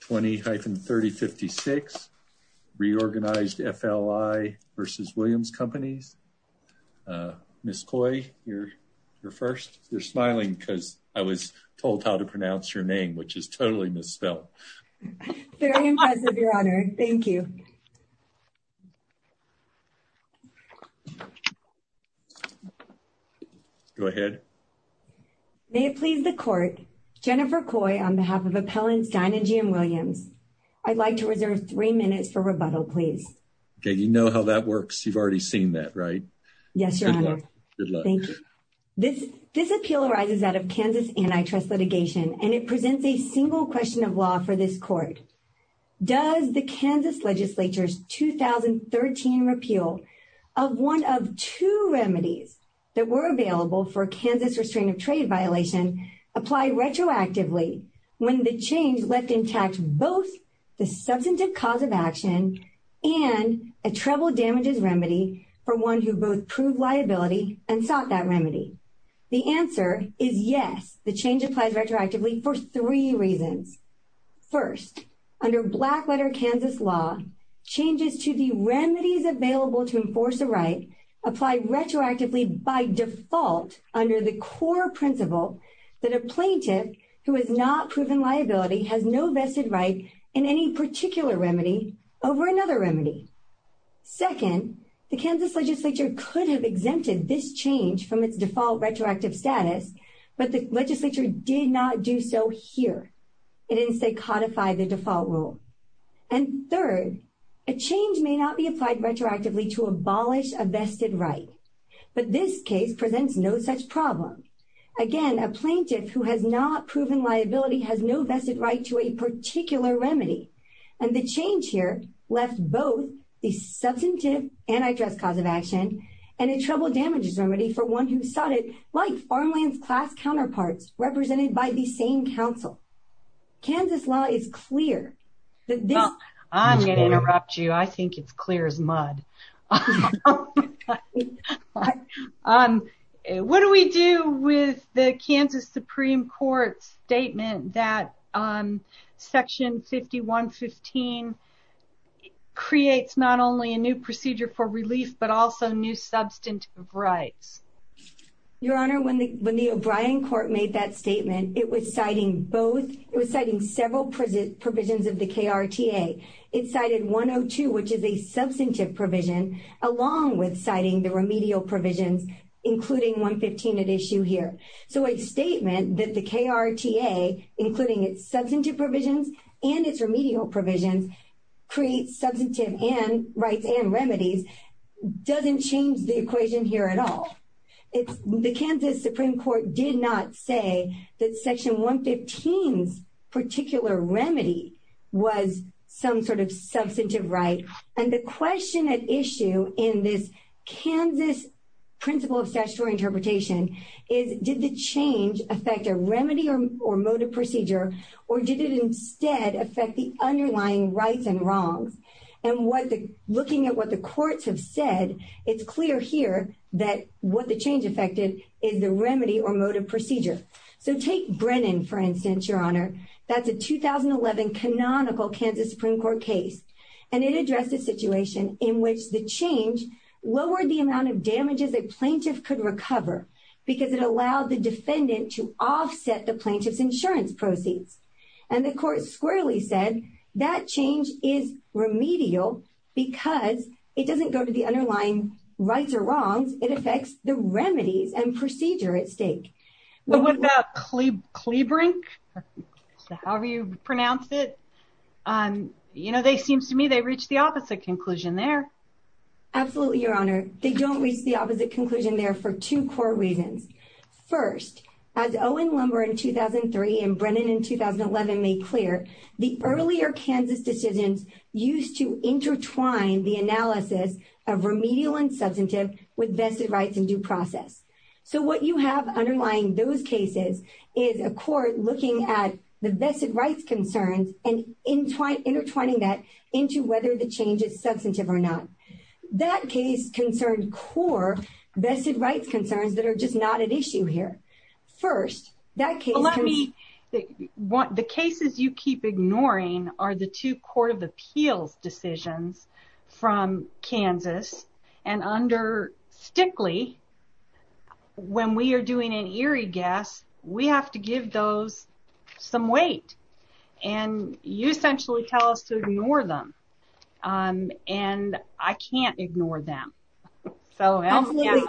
20-3056, Reorganized FLI v. Williams Companies. Ms. Coy, you're first. You're smiling because I was told how to pronounce your name, which is totally misspelled. Very impressive, your honor. Thank you. Go ahead. May it please the court, Jennifer Coy, on behalf of Appellants Dine and GM Williams, I'd like to reserve three minutes for rebuttal, please. Okay, you know how that works. You've already seen that, right? Yes, your honor. Good luck. Thank you. This appeal arises out of Kansas antitrust litigation, and it presents a single question of law for this court. Does the Kansas legislature's 2013 repeal of one of two remedies that were available for a Kansas restraint of trade violation apply retroactively when the change left intact both the substantive cause of action and a treble damages remedy for one who both proved liability and sought that remedy? The answer is yes, the change applies retroactively for three reasons. First, under black letter Kansas law, changes to the remedies available to enforce a right apply retroactively by default under the core principle that a plaintiff who has not proven liability has no vested right in any particular remedy over another remedy. Second, the Kansas legislature could have exempted this change from its default retroactive status, but the legislature did not do so here. It didn't say codify the default rule. And third, a change may not be applied retroactively to abolish a vested right, but this case presents no such problem. Again, a plaintiff who has not proven liability has no vested right to a particular remedy, and the change here left both the substantive antitrust cause of action and a treble damages remedy for one who sought it like farmland's class counterparts represented by the same council. Kansas law is clear that this... I'm going to interrupt you. I think it's clear as mud. What do we do with the Kansas Supreme Court's statement that section 5115 creates not only a new procedure for relief, but also new substantive rights? Your Honor, when the O'Brien court made that statement, it was citing both... It was citing several provisions of the KRTA. It cited 102, which is a substantive provision, along with citing the remedial provisions, including 115 at issue here. So a statement that the KRTA, including its substantive provisions and its remedial provisions, creates substantive rights and remedies doesn't change the equation here at all. The Kansas Supreme Court did not say that section 115's particular remedy was some sort of substantive right. And the question at issue in this Kansas principle of statutory interpretation is, did the change affect a remedy or motive procedure, or did it instead affect the underlying rights and wrongs? And looking at what the courts have said, it's clear here that what the change affected is the remedy or motive procedure. So take Brennan, for instance, Your Honor. That's a 2011 canonical Kansas Supreme Court case, and it addressed a situation in which the change lowered the amount of damages a plaintiff could recover because it allowed the defendant to offset the plaintiff's insurance proceeds. And the court squarely said that change is remedial because it doesn't go to the underlying rights or wrongs. It affects the remedies and procedure at stake. But what about Klebrink, however you pronounce it? You know, they seem to me, they reached the opposite conclusion there. Absolutely, Your Honor. They don't reach the opposite conclusion there for two core reasons. First, as Owen Lumber in 2003 and 2011 made clear, the earlier Kansas decisions used to intertwine the analysis of remedial and substantive with vested rights and due process. So what you have underlying those cases is a court looking at the vested rights concerns and intertwining that into whether the change is substantive or not. That case concerned core vested rights concerns that are just not at issue here. First, that case... The cases you keep ignoring are the two Court of Appeals decisions from Kansas. And under Stickley, when we are doing an Erie guess, we have to give those some weight. And you essentially tell us to ignore them. And I can't ignore them. So, yeah.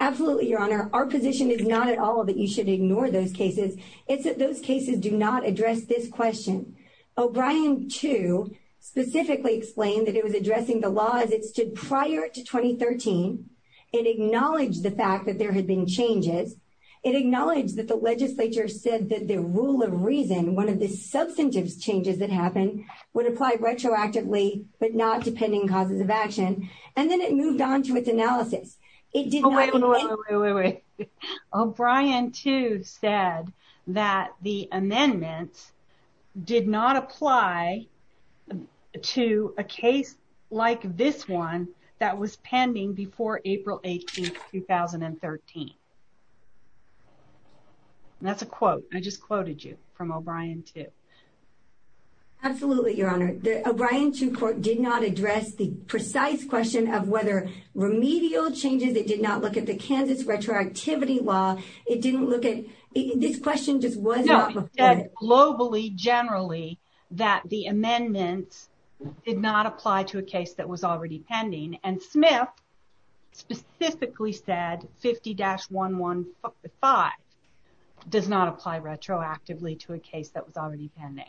Absolutely, Your Honor. Our position is not at all that you should ignore those cases. It's that those cases do not address this question. O'Brien, too, specifically explained that it was addressing the law as it stood prior to 2013. It acknowledged the fact that there had been changes. It acknowledged that the legislature said that the rule of reason, one of the substantive changes that happened, would apply retroactively, but not depending causes of action. And then it moved on to its analysis. It did not... Wait, wait, wait. O'Brien, too, said that the amendment did not apply to a case like this one that was pending before April 18th, 2013. That's a quote. I just quoted you from O'Brien, too. Absolutely, Your Honor. The O'Brien, too, quote, did not address the precise question of whether remedial changes. It did not look at the Kansas retroactivity law. It didn't look at... This question just was not... No, it said globally, generally, that the amendments did not apply to a case that was already pending. And Smith specifically said 50-1155 does not apply retroactively to a case that was already pending.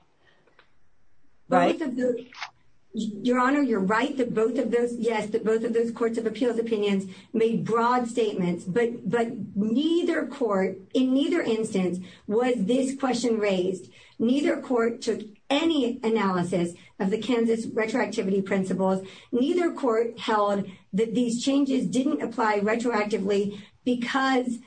Your Honor, you're right that both of those... Yes, that both of those courts of appeals opinions made broad statements, but neither court, in neither instance, was this question raised. Neither court took any analysis of the Kansas retroactivity principles. Neither court held that these changes didn't apply retroactively because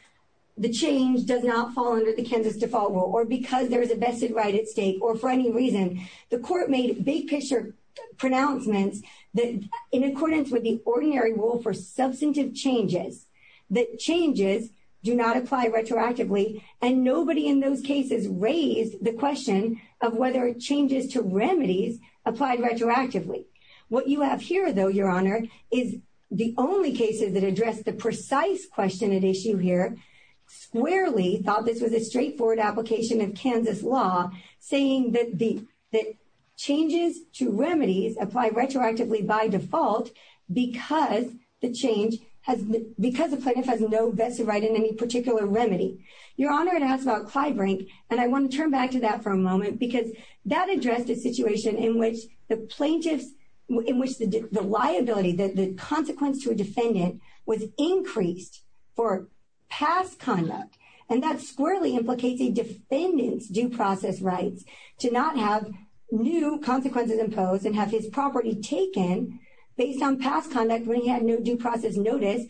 the change does not fall under the Kansas default rule, or because there is a vested right at stake, or for any reason. The court made big picture pronouncements that, in accordance with the ordinary rule for substantive changes, that changes do not apply retroactively. And nobody in those cases raised the question of whether changes to remedies applied retroactively. What you have here, though, Your Honor, is the only cases that address the precise question at issue here, squarely thought this was a straightforward application of Kansas law, saying that changes to remedies apply retroactively by default because the change has... Because the plaintiff has no vested right in any particular remedy. Your Honor, it asks about Clybrink, and I want to turn back to that for a moment because that addressed a situation in which the plaintiff's... In which the liability, the consequence to a defendant was increased for past conduct. And that squarely implicates a defendant's due process rights to not have new consequences imposed and have his property taken based on past conduct when he had no due process notice,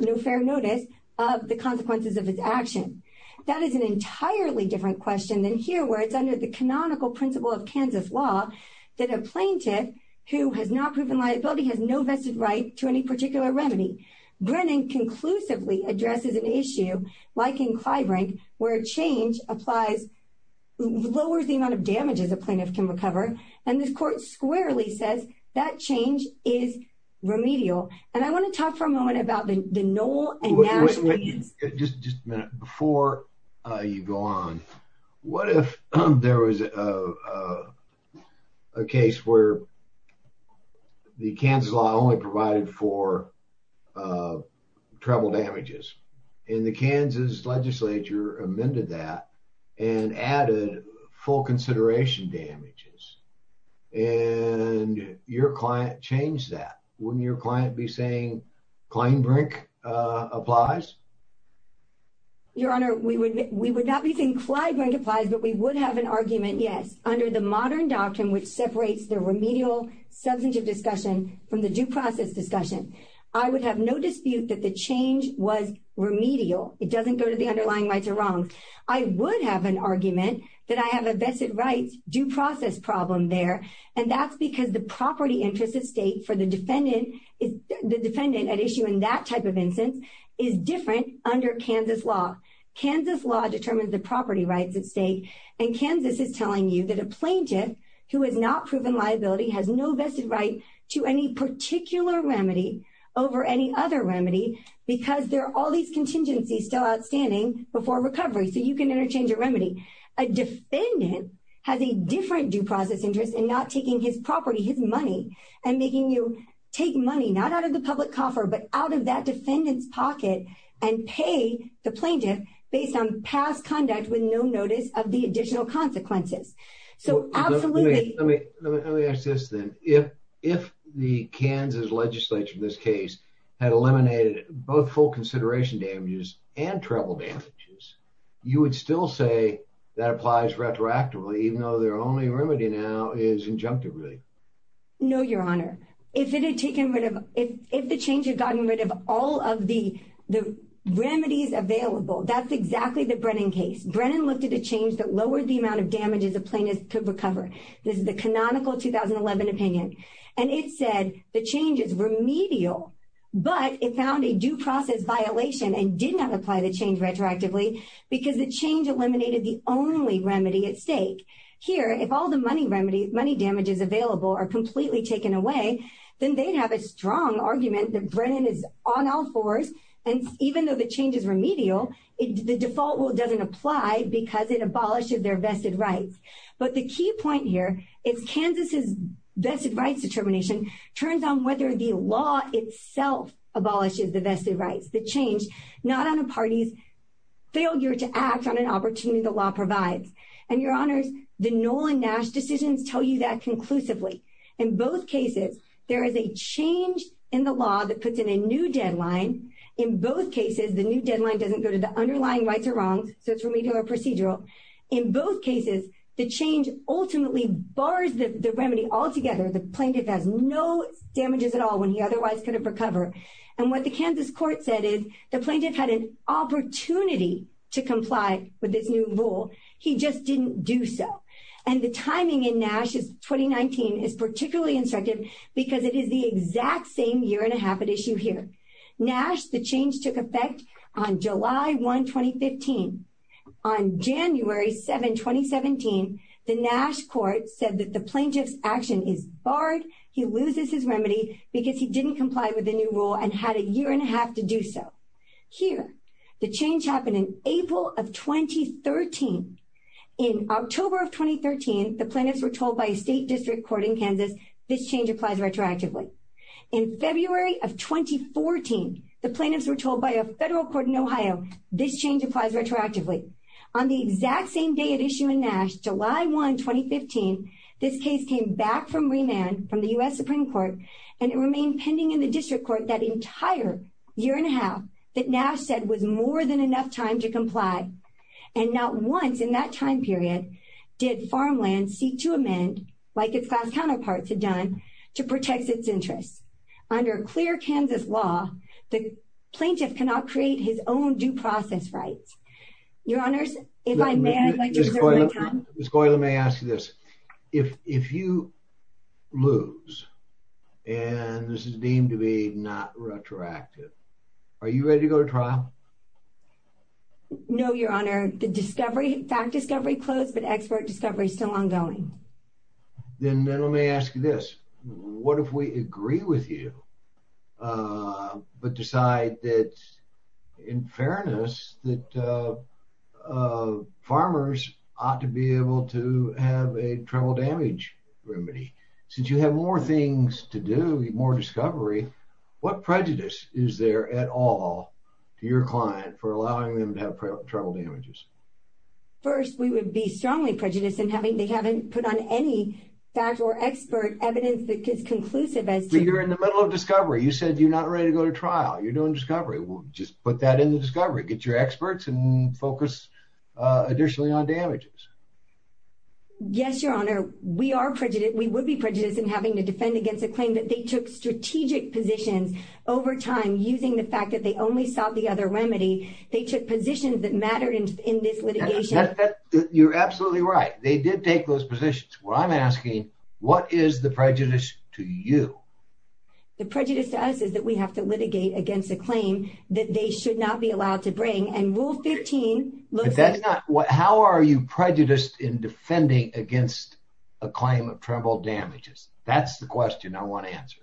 no fair notice of the consequences of his action. That is an entirely different question than here, where it's under the canonical principle of Kansas law that a plaintiff who has not proven liability has no vested right to any particular remedy. Brennan conclusively addresses an issue, like in Clybrink, where a change applies, lowers the amount of damages a plaintiff can recover. And this court squarely says that change is remedial. And I want to talk for a moment about the Noel and Nash opinions. Just a minute. Before you go on, what if there was a case where the Kansas law only provided for treble damages? And the Kansas legislature amended that and added full consideration damages. And your client changed that. Wouldn't your client be saying Clybrink applies? Your Honor, we would not be saying Clybrink applies, but we would have an argument, yes, under the modern doctrine, which separates the remedial substantive discussion from the due process discussion. I would have no dispute that the change was remedial. It doesn't go to the underlying rights or wrongs. I would have an argument that I have a vested rights due process problem there. And that's because the property interest of state for the defendant at issue in that type of instance is different under Kansas law. Kansas law determines the property rights at stake. And Kansas is telling you that a plaintiff who has not proven liability has no vested right to any particular remedy over any other remedy because there are all these contingencies still outstanding before recovery. So you can interchange a remedy. A defendant has a different due process interest in not taking his property, his money, and making you take money not out of the public coffer, but out of that defendant's pocket and pay the plaintiff based on past conduct with no notice of the additional consequences. So absolutely. Let me ask this then. If the Kansas legislature in this case had eliminated both full consideration damages and travel damages, you would still say that applies retroactively even though their only remedy now is injunctive, really? No, your honor. If it had taken rid of, if the change had gotten rid of all of the remedies available, that's exactly the Brennan case. Brennan looked at a change that lowered the amount of damages a plaintiff could recover. This is the canonical 2011 opinion. And it said the change is remedial, but it found a due process violation and did not apply the change remedy at stake. Here, if all the money damages available are completely taken away, then they'd have a strong argument that Brennan is on all fours. And even though the change is remedial, the default rule doesn't apply because it abolishes their vested rights. But the key point here is Kansas's vested rights determination turns on whether the law itself abolishes the vested rights. The change not on a party's failure to act on an opportunity the and your honors, the Nolan Nash decisions tell you that conclusively. In both cases, there is a change in the law that puts in a new deadline. In both cases, the new deadline doesn't go to the underlying rights or wrongs. So it's remedial or procedural. In both cases, the change ultimately bars the remedy altogether. The plaintiff has no damages at all when he otherwise could have recovered. And what the Kansas court said is the plaintiff had an opportunity to do so. And the timing in Nash's 2019 is particularly instructive because it is the exact same year and a half at issue here. Nash, the change took effect on July 1, 2015. On January 7, 2017, the Nash court said that the plaintiff's action is barred. He loses his remedy because he didn't comply with the new rule and had a year and a half to do so. Here, the change happened in April of 2013. In October of 2013, the plaintiffs were told by a state district court in Kansas, this change applies retroactively. In February of 2014, the plaintiffs were told by a federal court in Ohio, this change applies retroactively. On the exact same day at issue in Nash, July 1, 2015, this case came back from remand from the U.S. Supreme Court, and it remained pending in the district court that entire year and a half that Nash said was more than enough time to comply and not once in that time period did farmland seek to amend, like its class counterparts had done, to protect its interests. Under clear Kansas law, the plaintiff cannot create his own due process rights. Your honors, if I may, I'd like to reserve my time. Ms. Goyla, may I ask you this? If you lose and this is deemed to be not retroactive, are you ready to go to trial? No, your honor. The discovery, fact discovery closed, but expert discovery is still ongoing. Then let me ask you this. What if we agree with you, but decide that in fairness that farmers ought to be able to have a travel damage remedy? Since you have more things to do, more discovery, what prejudice is there at all to your client for allowing them to have travel damages? First, we would be strongly prejudiced in having they haven't put on any fact or expert evidence that is conclusive as to... You're in the middle of discovery. You said you're not ready to go to trial. You're doing discovery. We'll just put that in the discovery. Get your experts and focus additionally on damages. Yes, your honor. We are prejudiced. We would be prejudiced in having to defend against a claim that they took strategic positions over time using the fact that they only saw the other remedy. They took positions that mattered in this litigation. You're absolutely right. They did take those positions. Well, I'm asking, what is the prejudice to you? The prejudice to us is that we have to litigate against a claim that they should not be allowed to bring and rule 15 looks... How are you prejudiced in defending against a claim of travel damages? That's the question I want answered.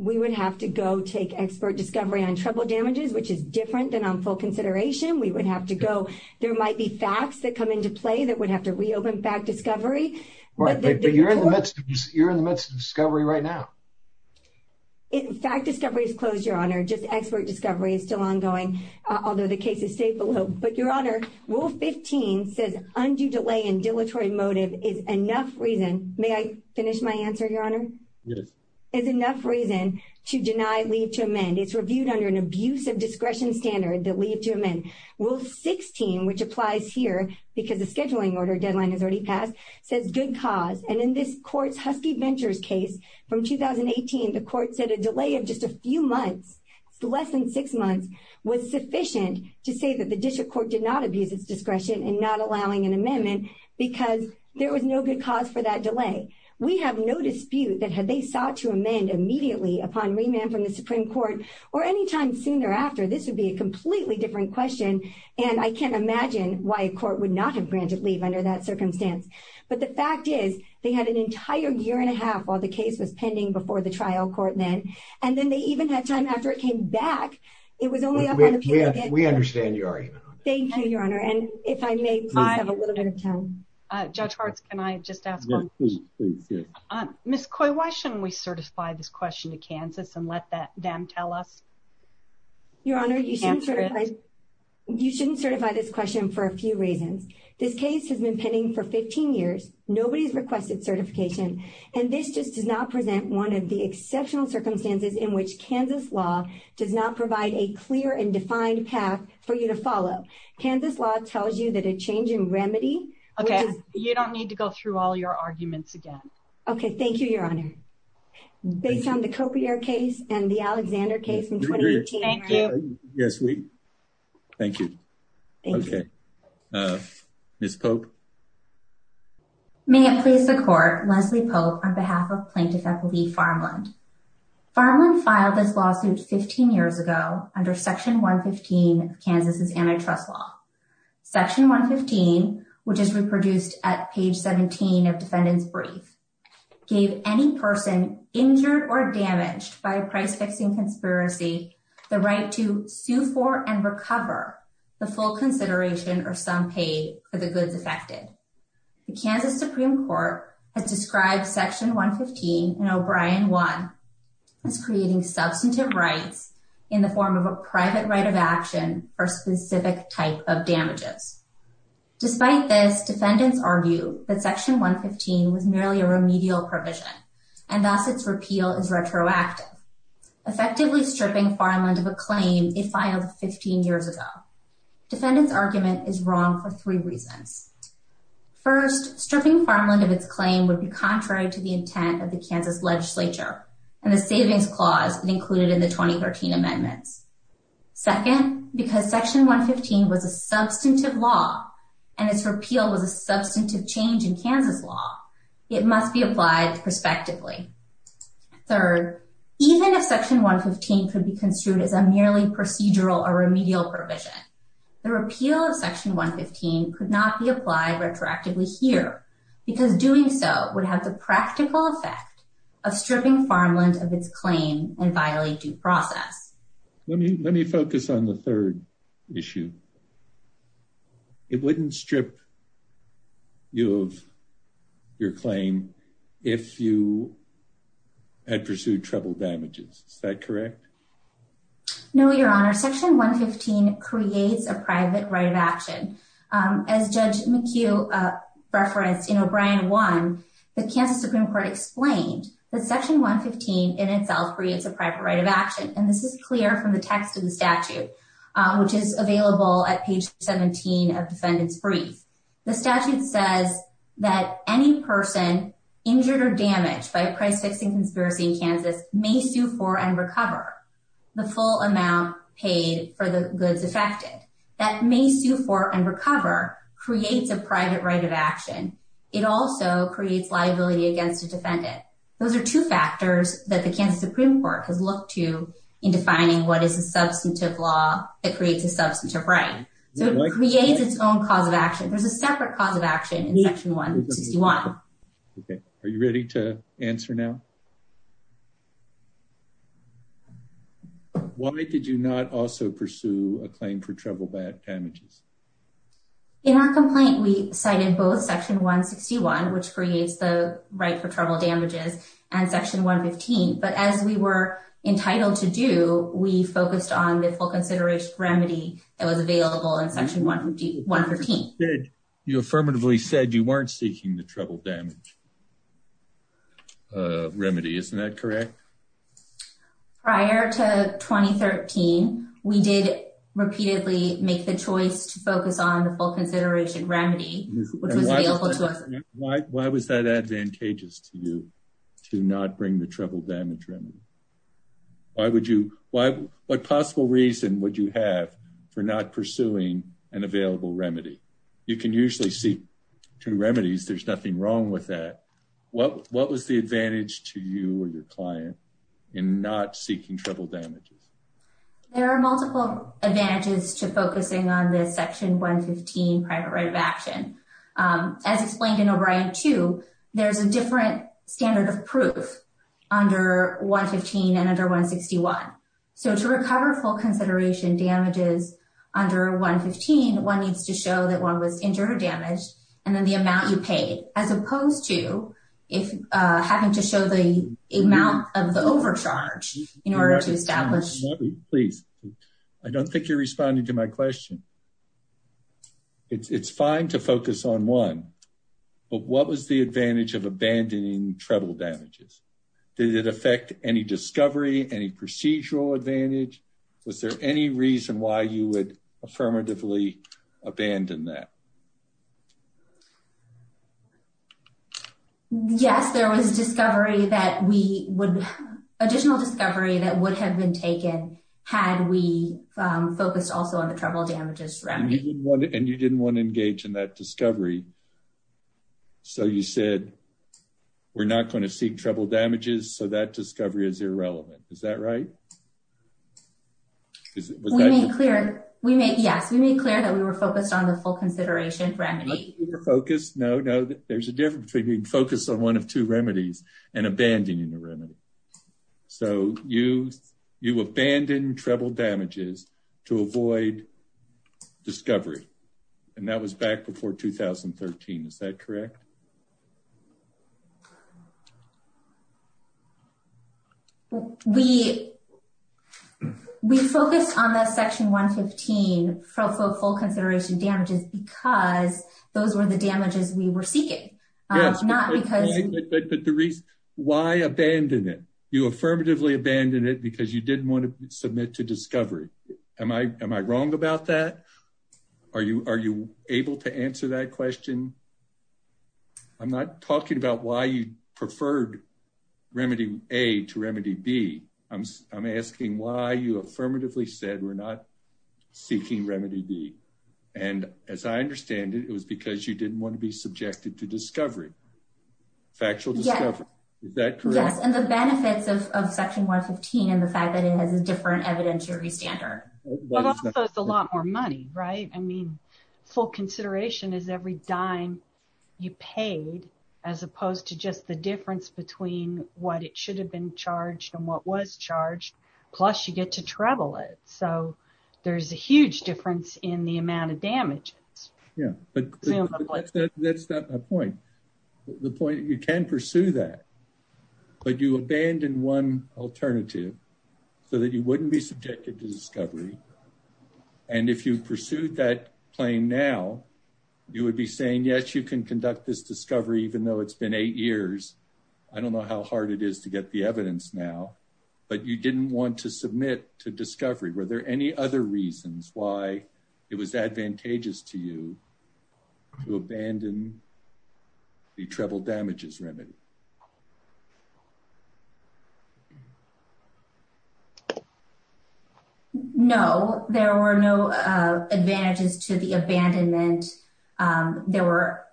We would have to go take expert discovery on travel damages, which is different than on full consideration. We would have to go... There might be facts that come into play that would have to reopen back discovery. Right. But you're in the midst of discovery right now. Fact discovery is closed, your honor. Just expert discovery is still ongoing, although the cases stay below. But your honor, rule 15 says undue delay and dilatory motive is enough reason... May I finish my answer, your honor? Yes. Is enough reason to deny leave to amend. It's reviewed under an abuse of discretion standard that leave to amend. Rule 16, which applies here because the scheduling order deadline has already passed, says good cause. And in this court's Husky Ventures case from 2018, the court said a delay of just a few months, less than six months, was sufficient to say that the district court did not abuse its discretion in not allowing an amendment because there was no good cause for that delay. We have no dispute that had they sought to amend immediately upon remand from the Supreme Court or anytime soon thereafter, this would be a completely different question. And I can't imagine why a court would not have granted leave under that circumstance. But the fact is they had an entire year and a half to do that. And the court came back. It was only up on appeal again. We understand your argument. Thank you, your honor. And if I may have a little bit of time. Judge Hartz, can I just ask one question? Please, yes. Ms. Coy, why shouldn't we certify this question to Kansas and let them tell us? Your honor, you shouldn't certify this question for a few reasons. This case has been pending for 15 years. Nobody's requested certification. And this just does not present one of the exceptional circumstances in which Kansas law does not provide a clear and defined path for you to follow. Kansas law tells you that a change in remedy. Okay, you don't need to go through all your arguments again. Okay, thank you, your honor. Based on the copier case and the Alexander case in 2018. Yes, we thank you. Okay. Ms. Pope. May it please the court, Leslie Pope, on behalf of plaintiff Eppley Farmland. Farmland filed this lawsuit 15 years ago under section 115 of Kansas's antitrust law. Section 115, which is reproduced at page 17 of defendant's brief, gave any person injured or damaged by a price fixing conspiracy the right to sue for and recover the full consideration or some pay for the goods affected. The Kansas Supreme Court has described section 115 in O'Brien 1 as creating substantive rights in the form of a private right of action for specific type of damages. Despite this, defendants argue that section 115 was merely a remedial provision and thus its repeal is retroactive, effectively stripping Farmland of a claim it filed 15 years ago. Defendant's argument is wrong for three reasons. First, stripping Farmland of its claim would be contrary to the intent of the Kansas legislature and the savings clause included in the 2013 amendments. Second, because section 115 was a substantive law and its repeal was a substantive change in Kansas law, it must be applied prospectively. Third, even if section 115 could be construed as a merely procedural or remedial provision, the repeal of section 115 could not be applied retroactively here because doing so would have the practical effect of stripping Farmland of its claim and violate due process. Let me focus on the third issue. It wouldn't strip you of your claim if you had pursued treble damages, is that correct? No, your honor, section 115 creates a private right of action. As Judge McHugh referenced in O'Brien 1, the Kansas Supreme Court explained that section 115 in itself creates a private right of action and this is clear from the text of the statute which is available at page 17 of defendant's brief. The statute says that any person injured or damaged by a price fixing conspiracy in Kansas may sue for and recover the full amount paid for the goods affected. That may sue for and recover creates a private right of action. It also creates liability against a defendant. Those are two factors that the Kansas Supreme Court has looked to in defining what is a substantive law that creates a substantive right. So it creates its cause of action. There's a separate cause of action in section 161. Okay, are you ready to answer now? Why did you not also pursue a claim for treble damages? In our complaint we cited both section 161 which creates the right for treble damages and section 115 but as we were entitled to do we focused on the full consideration remedy that was available in section 115. You affirmatively said you weren't seeking the treble damage remedy, isn't that correct? Prior to 2013 we did repeatedly make the choice to focus on the full consideration remedy which was available to us. Why was that advantageous to you to not bring the what possible reason would you have for not pursuing an available remedy? You can usually seek two remedies, there's nothing wrong with that. What was the advantage to you or your client in not seeking treble damages? There are multiple advantages to focusing on this section 115 private right of action. As explained in O'Brien 2, there's a different standard of proof under 115 and under 161. So to recover full consideration damages under 115, one needs to show that one was injured or damaged and then the amount you paid as opposed to if having to show the amount of the overcharge in order to establish. Please, I don't think you're responding to my question. It's fine to focus on one but what was the advantage of abandoning treble damages? Did it affect any discovery, any procedural advantage? Was there any reason why you would affirmatively abandon that? Yes, there was discovery that we would additional discovery that would have been taken had we focused also on the treble damages remedy. And you didn't want to engage in that discovery as irrelevant, is that right? We made clear that we were focused on the full consideration remedy. There's a difference between being focused on one of two remedies and abandoning the remedy. So you abandon treble damages to avoid discovery and that was back before 2013, is that correct? We focused on that section 115 for full consideration damages because those were the damages we were seeking. But the reason why abandon it, you affirmatively abandon it because you didn't want to submit to discovery. Am I wrong about that? Are you able to answer that question? I'm not talking about why you preferred remedy A to remedy B. I'm asking why you affirmatively said we're not seeking remedy B. And as I understand it, it was because you didn't want to be subjected to discovery. Factual discovery, is that correct? Yes, and the benefits of section 115 and the fact that it has a different evidentiary standard. But also it's a lot more money, right? I mean, full consideration is every dime you paid as opposed to just the difference between what it should have been charged and what was charged. Plus you get to treble it. So there's a huge difference in the amount of damages. Yeah, but that's not my point. The point you can pursue that, but you abandon one alternative so that you wouldn't be subjected to discovery. And if you pursued that claim now, you would be saying yes, you can conduct this discovery even though it's been eight years. I don't know how hard it is to get the evidence now, but you didn't want to submit to discovery. Were there any other reasons why it was advantageous to you to abandon the treble damages remedy? No, there were no advantages to the abandonment. There were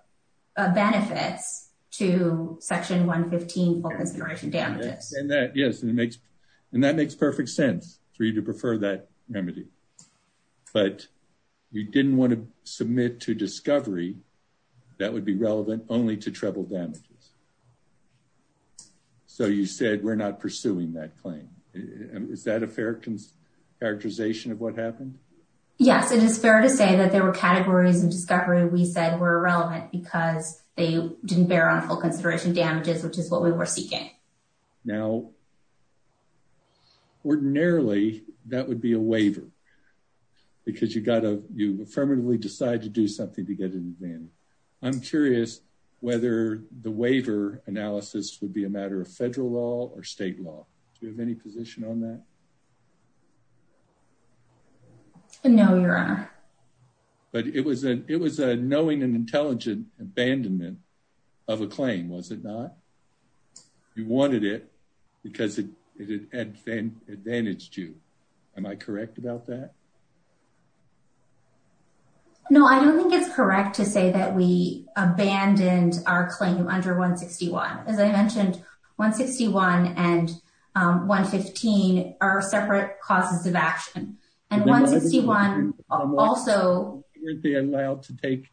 benefits to section 115 focused on full consideration damages. Yes, and that makes perfect sense for you to prefer that remedy. But you didn't want to submit to discovery that would be relevant only to treble damages. So you said we're not pursuing that claim. Is that a fair characterization of what happened? Yes, it is fair to say that there were categories in discovery we said were irrelevant because they didn't bear on full consideration damages, which is what we were seeking. Now, ordinarily that would be a waiver because you got to, you affirmatively decide to do something to get an advantage. I'm curious whether the waiver analysis would be a matter of federal law or state law. Do you have any position on that? No, your honor. But it was a knowing and abandonment of a claim, was it not? You wanted it because it advantaged you. Am I correct about that? No, I don't think it's correct to say that we abandoned our claim under 161. As I mentioned, 161 and 115 are separate causes of action. And 161 also wouldn't be allowed to take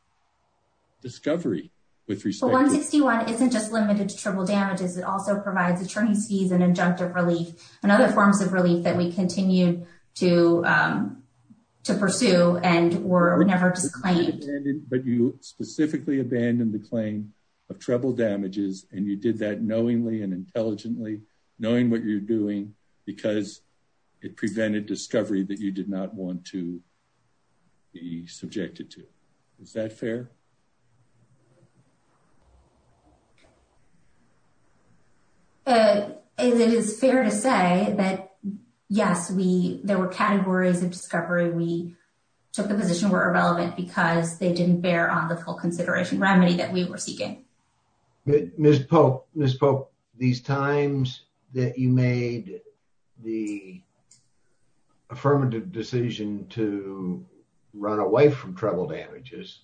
discovery with respect. 161 isn't just limited to treble damages. It also provides attorneys fees and injunctive relief and other forms of relief that we continued to pursue and were never disclaimed. But you specifically abandoned the claim of treble damages and you did that knowingly and intelligently, knowing what you're doing because it prevented discovery that you did not want to be subjected to. Is that fair? It is fair to say that yes, there were categories of discovery we took the position were irrelevant because they didn't bear on the full consideration remedy that we were seeking. Ms. Pope, these times that you made the affirmative decision to run away from treble damages,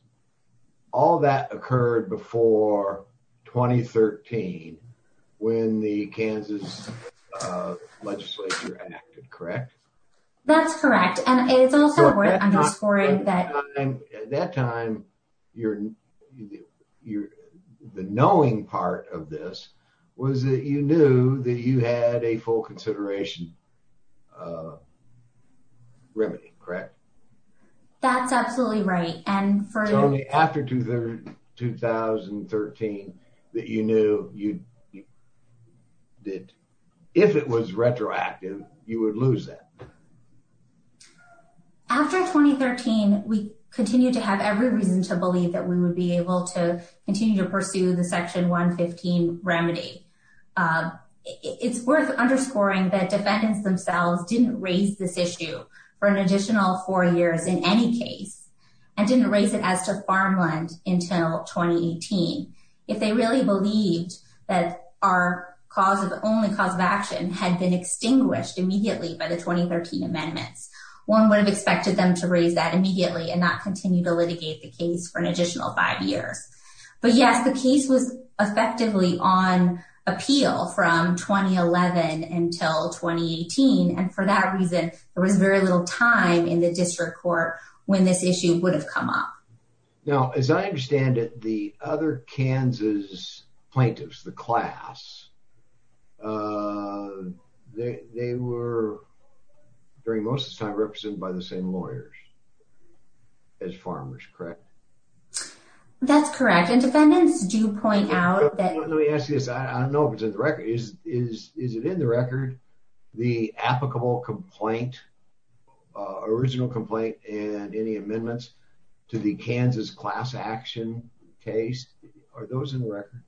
all that occurred before 2013 when the Kansas legislature acted, correct? That's correct. And it's also worth underscoring that at that time, the knowing part of this was that you knew that you had a full consideration remedy, correct? That's absolutely right. And it's only after 2013 that you knew that if it was retroactive, you would lose that. After 2013, we continued to have every reason to believe that we would be able to continue to pursue the section 115 remedy. It's worth underscoring that defendants themselves didn't raise this issue for an additional four years in any case and didn't raise it as to that our cause of the only cause of action had been extinguished immediately by the 2013 amendments. One would have expected them to raise that immediately and not continue to litigate the case for an additional five years. But yes, the case was effectively on appeal from 2011 until 2018. And for that reason, there was very little time in the district court when this issue would come up. Now, as I understand it, the other Kansas plaintiffs, the class, they were during most of the time represented by the same lawyers as farmers, correct? That's correct. And defendants do point out that... Let me ask you this. I don't know if it's in the record. Is it in the record, the applicable complaint, original complaint and any amendments to the Kansas class action case? Are those in the record?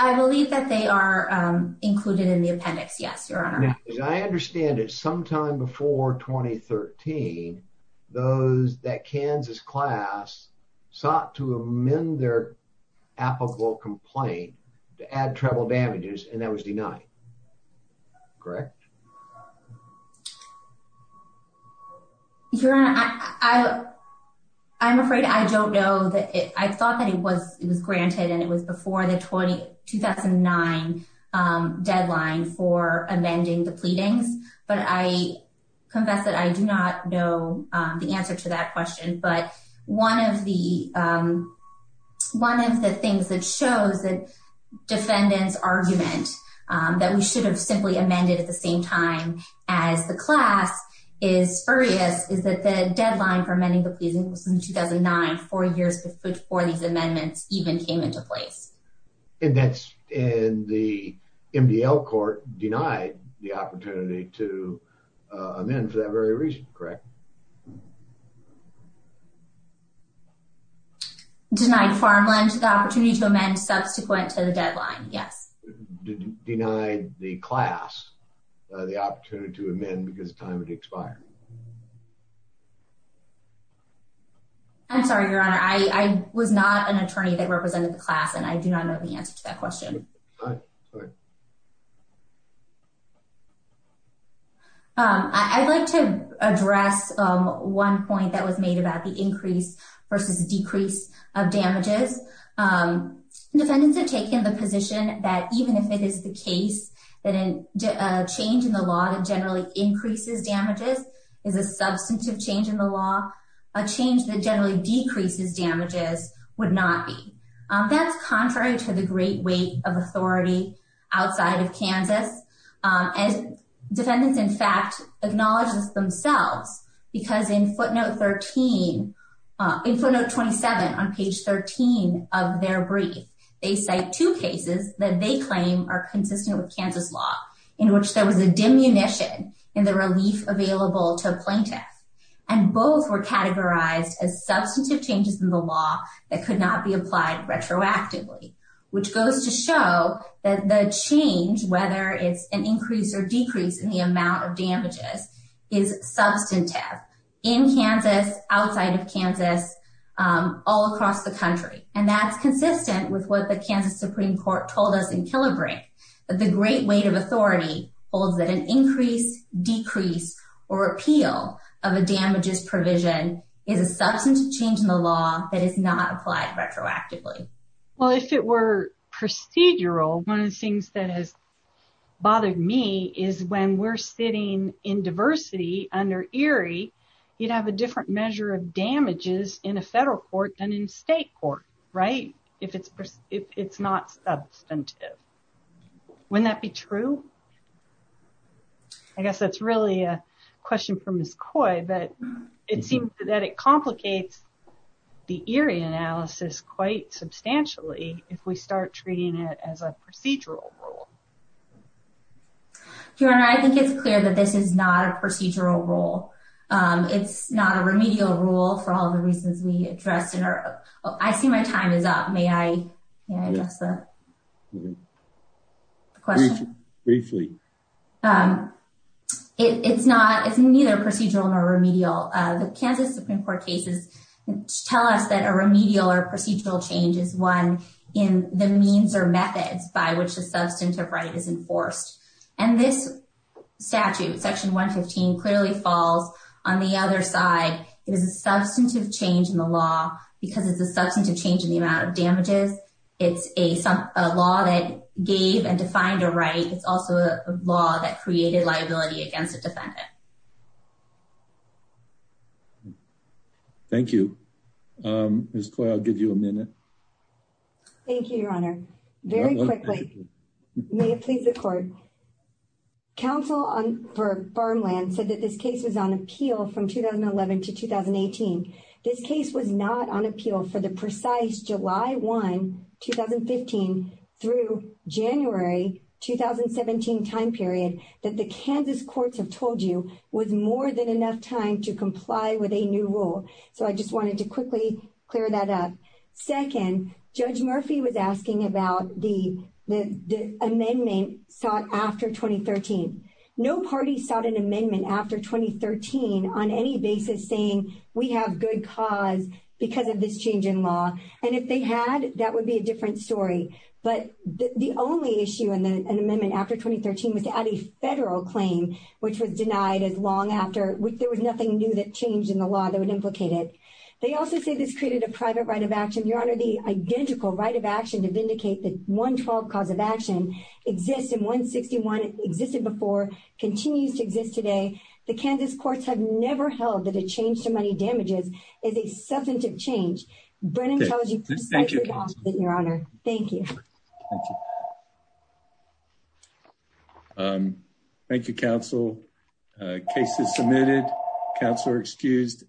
I believe that they are included in the appendix. Yes, your honor. As I understand it, sometime before 2013, those that Kansas class sought to amend their applicable complaint to add travel damages and that was denied, correct? Your honor, I'm afraid I don't know that it... I thought that it was granted and it was before the 2009 deadline for amending the pleadings. But I confess that I do not know the answer to that question. But one of the things that shows that defendant's argument that we should have simply amended at the same time as the class is spurious is that the deadline for amending the pleasing was in 2009, four years before these amendments even came into place. And that's in the MDL court denied the opportunity to amend for that very reason, correct? Denied farmland the opportunity to amend subsequent to the deadline, yes. Denied the class the opportunity to amend because time had expired. I'm sorry, your honor. I was not an attorney that represented the class and I do not know the answer to that question. I'd like to address one point that was made about the increase versus decrease of damages. Defendants have taken the position that even if it is the case that a change in the law that generally increases damages is a substantive change in the law, a change that generally decreases damages would not be. That's contrary to the great weight of authority outside of Kansas. As defendants in fact acknowledge this themselves because in footnote 13, in footnote 27 on page 13 of their brief, they cite two cases that they claim are consistent with Kansas law in which there was a diminution in the relief available to a plaintiff. And both were categorized as substantive changes in the law that could not be applied retroactively, which goes to show that the change, whether it's an increase or decrease in the amount of damages, is substantive in Kansas, outside of Kansas, all across the country. And that's consistent with what the Kansas Supreme Court told us in Killerbrink, that the great weight of authority holds that an increase, decrease, or appeal of a damages provision is a substantive change in the law that is not applied retroactively. Well, if it were procedural, one of the things that has bothered me is when we're sitting in diversity under ERIE, you'd have a different measure of damages in a federal court than in state court, right? If it's not substantive. Wouldn't that be true? I guess that's really a complicates the ERIE analysis quite substantially if we start treating it as a procedural rule. Your Honor, I think it's clear that this is not a procedural rule. It's not a remedial rule for all the reasons we addressed in our... I see my time is up. May I address the question? Briefly. It's neither procedural nor remedial. The Kansas Supreme Court cases tell us that a remedial or procedural change is one in the means or methods by which the substantive right is enforced. And this statute, Section 115, clearly falls on the other side. It is a substantive change in the law because it's a substantive change in the amount of damages. It's a law that gave and defined a right. It's also a law that created liability against a defendant. Thank you. Ms. Coyle, I'll give you a minute. Thank you, Your Honor. Very quickly. May it please the court. Counsel for Farmland said that this case was on appeal from 2011 to 2018. This case was not on appeal until January 2017 time period that the Kansas courts have told you was more than enough time to comply with a new rule. So I just wanted to quickly clear that up. Second, Judge Murphy was asking about the amendment sought after 2013. No party sought an amendment after 2013 on any basis saying we have good cause because of this change in law. And if they had, that would be a different story. But the only issue in the amendment after 2013 was to add a federal claim, which was denied as long after there was nothing new that changed in the law that would implicate it. They also say this created a private right of action. Your Honor, the identical right of action to vindicate the 112 cause of action exists in 161, existed before, continues to exist today. The Kansas courts have never held that a change to money damages is a substantive change. Brennan tells you precisely Your Honor. Thank you. Thank you. Thank you, counsel. Case is submitted. Counselor excused.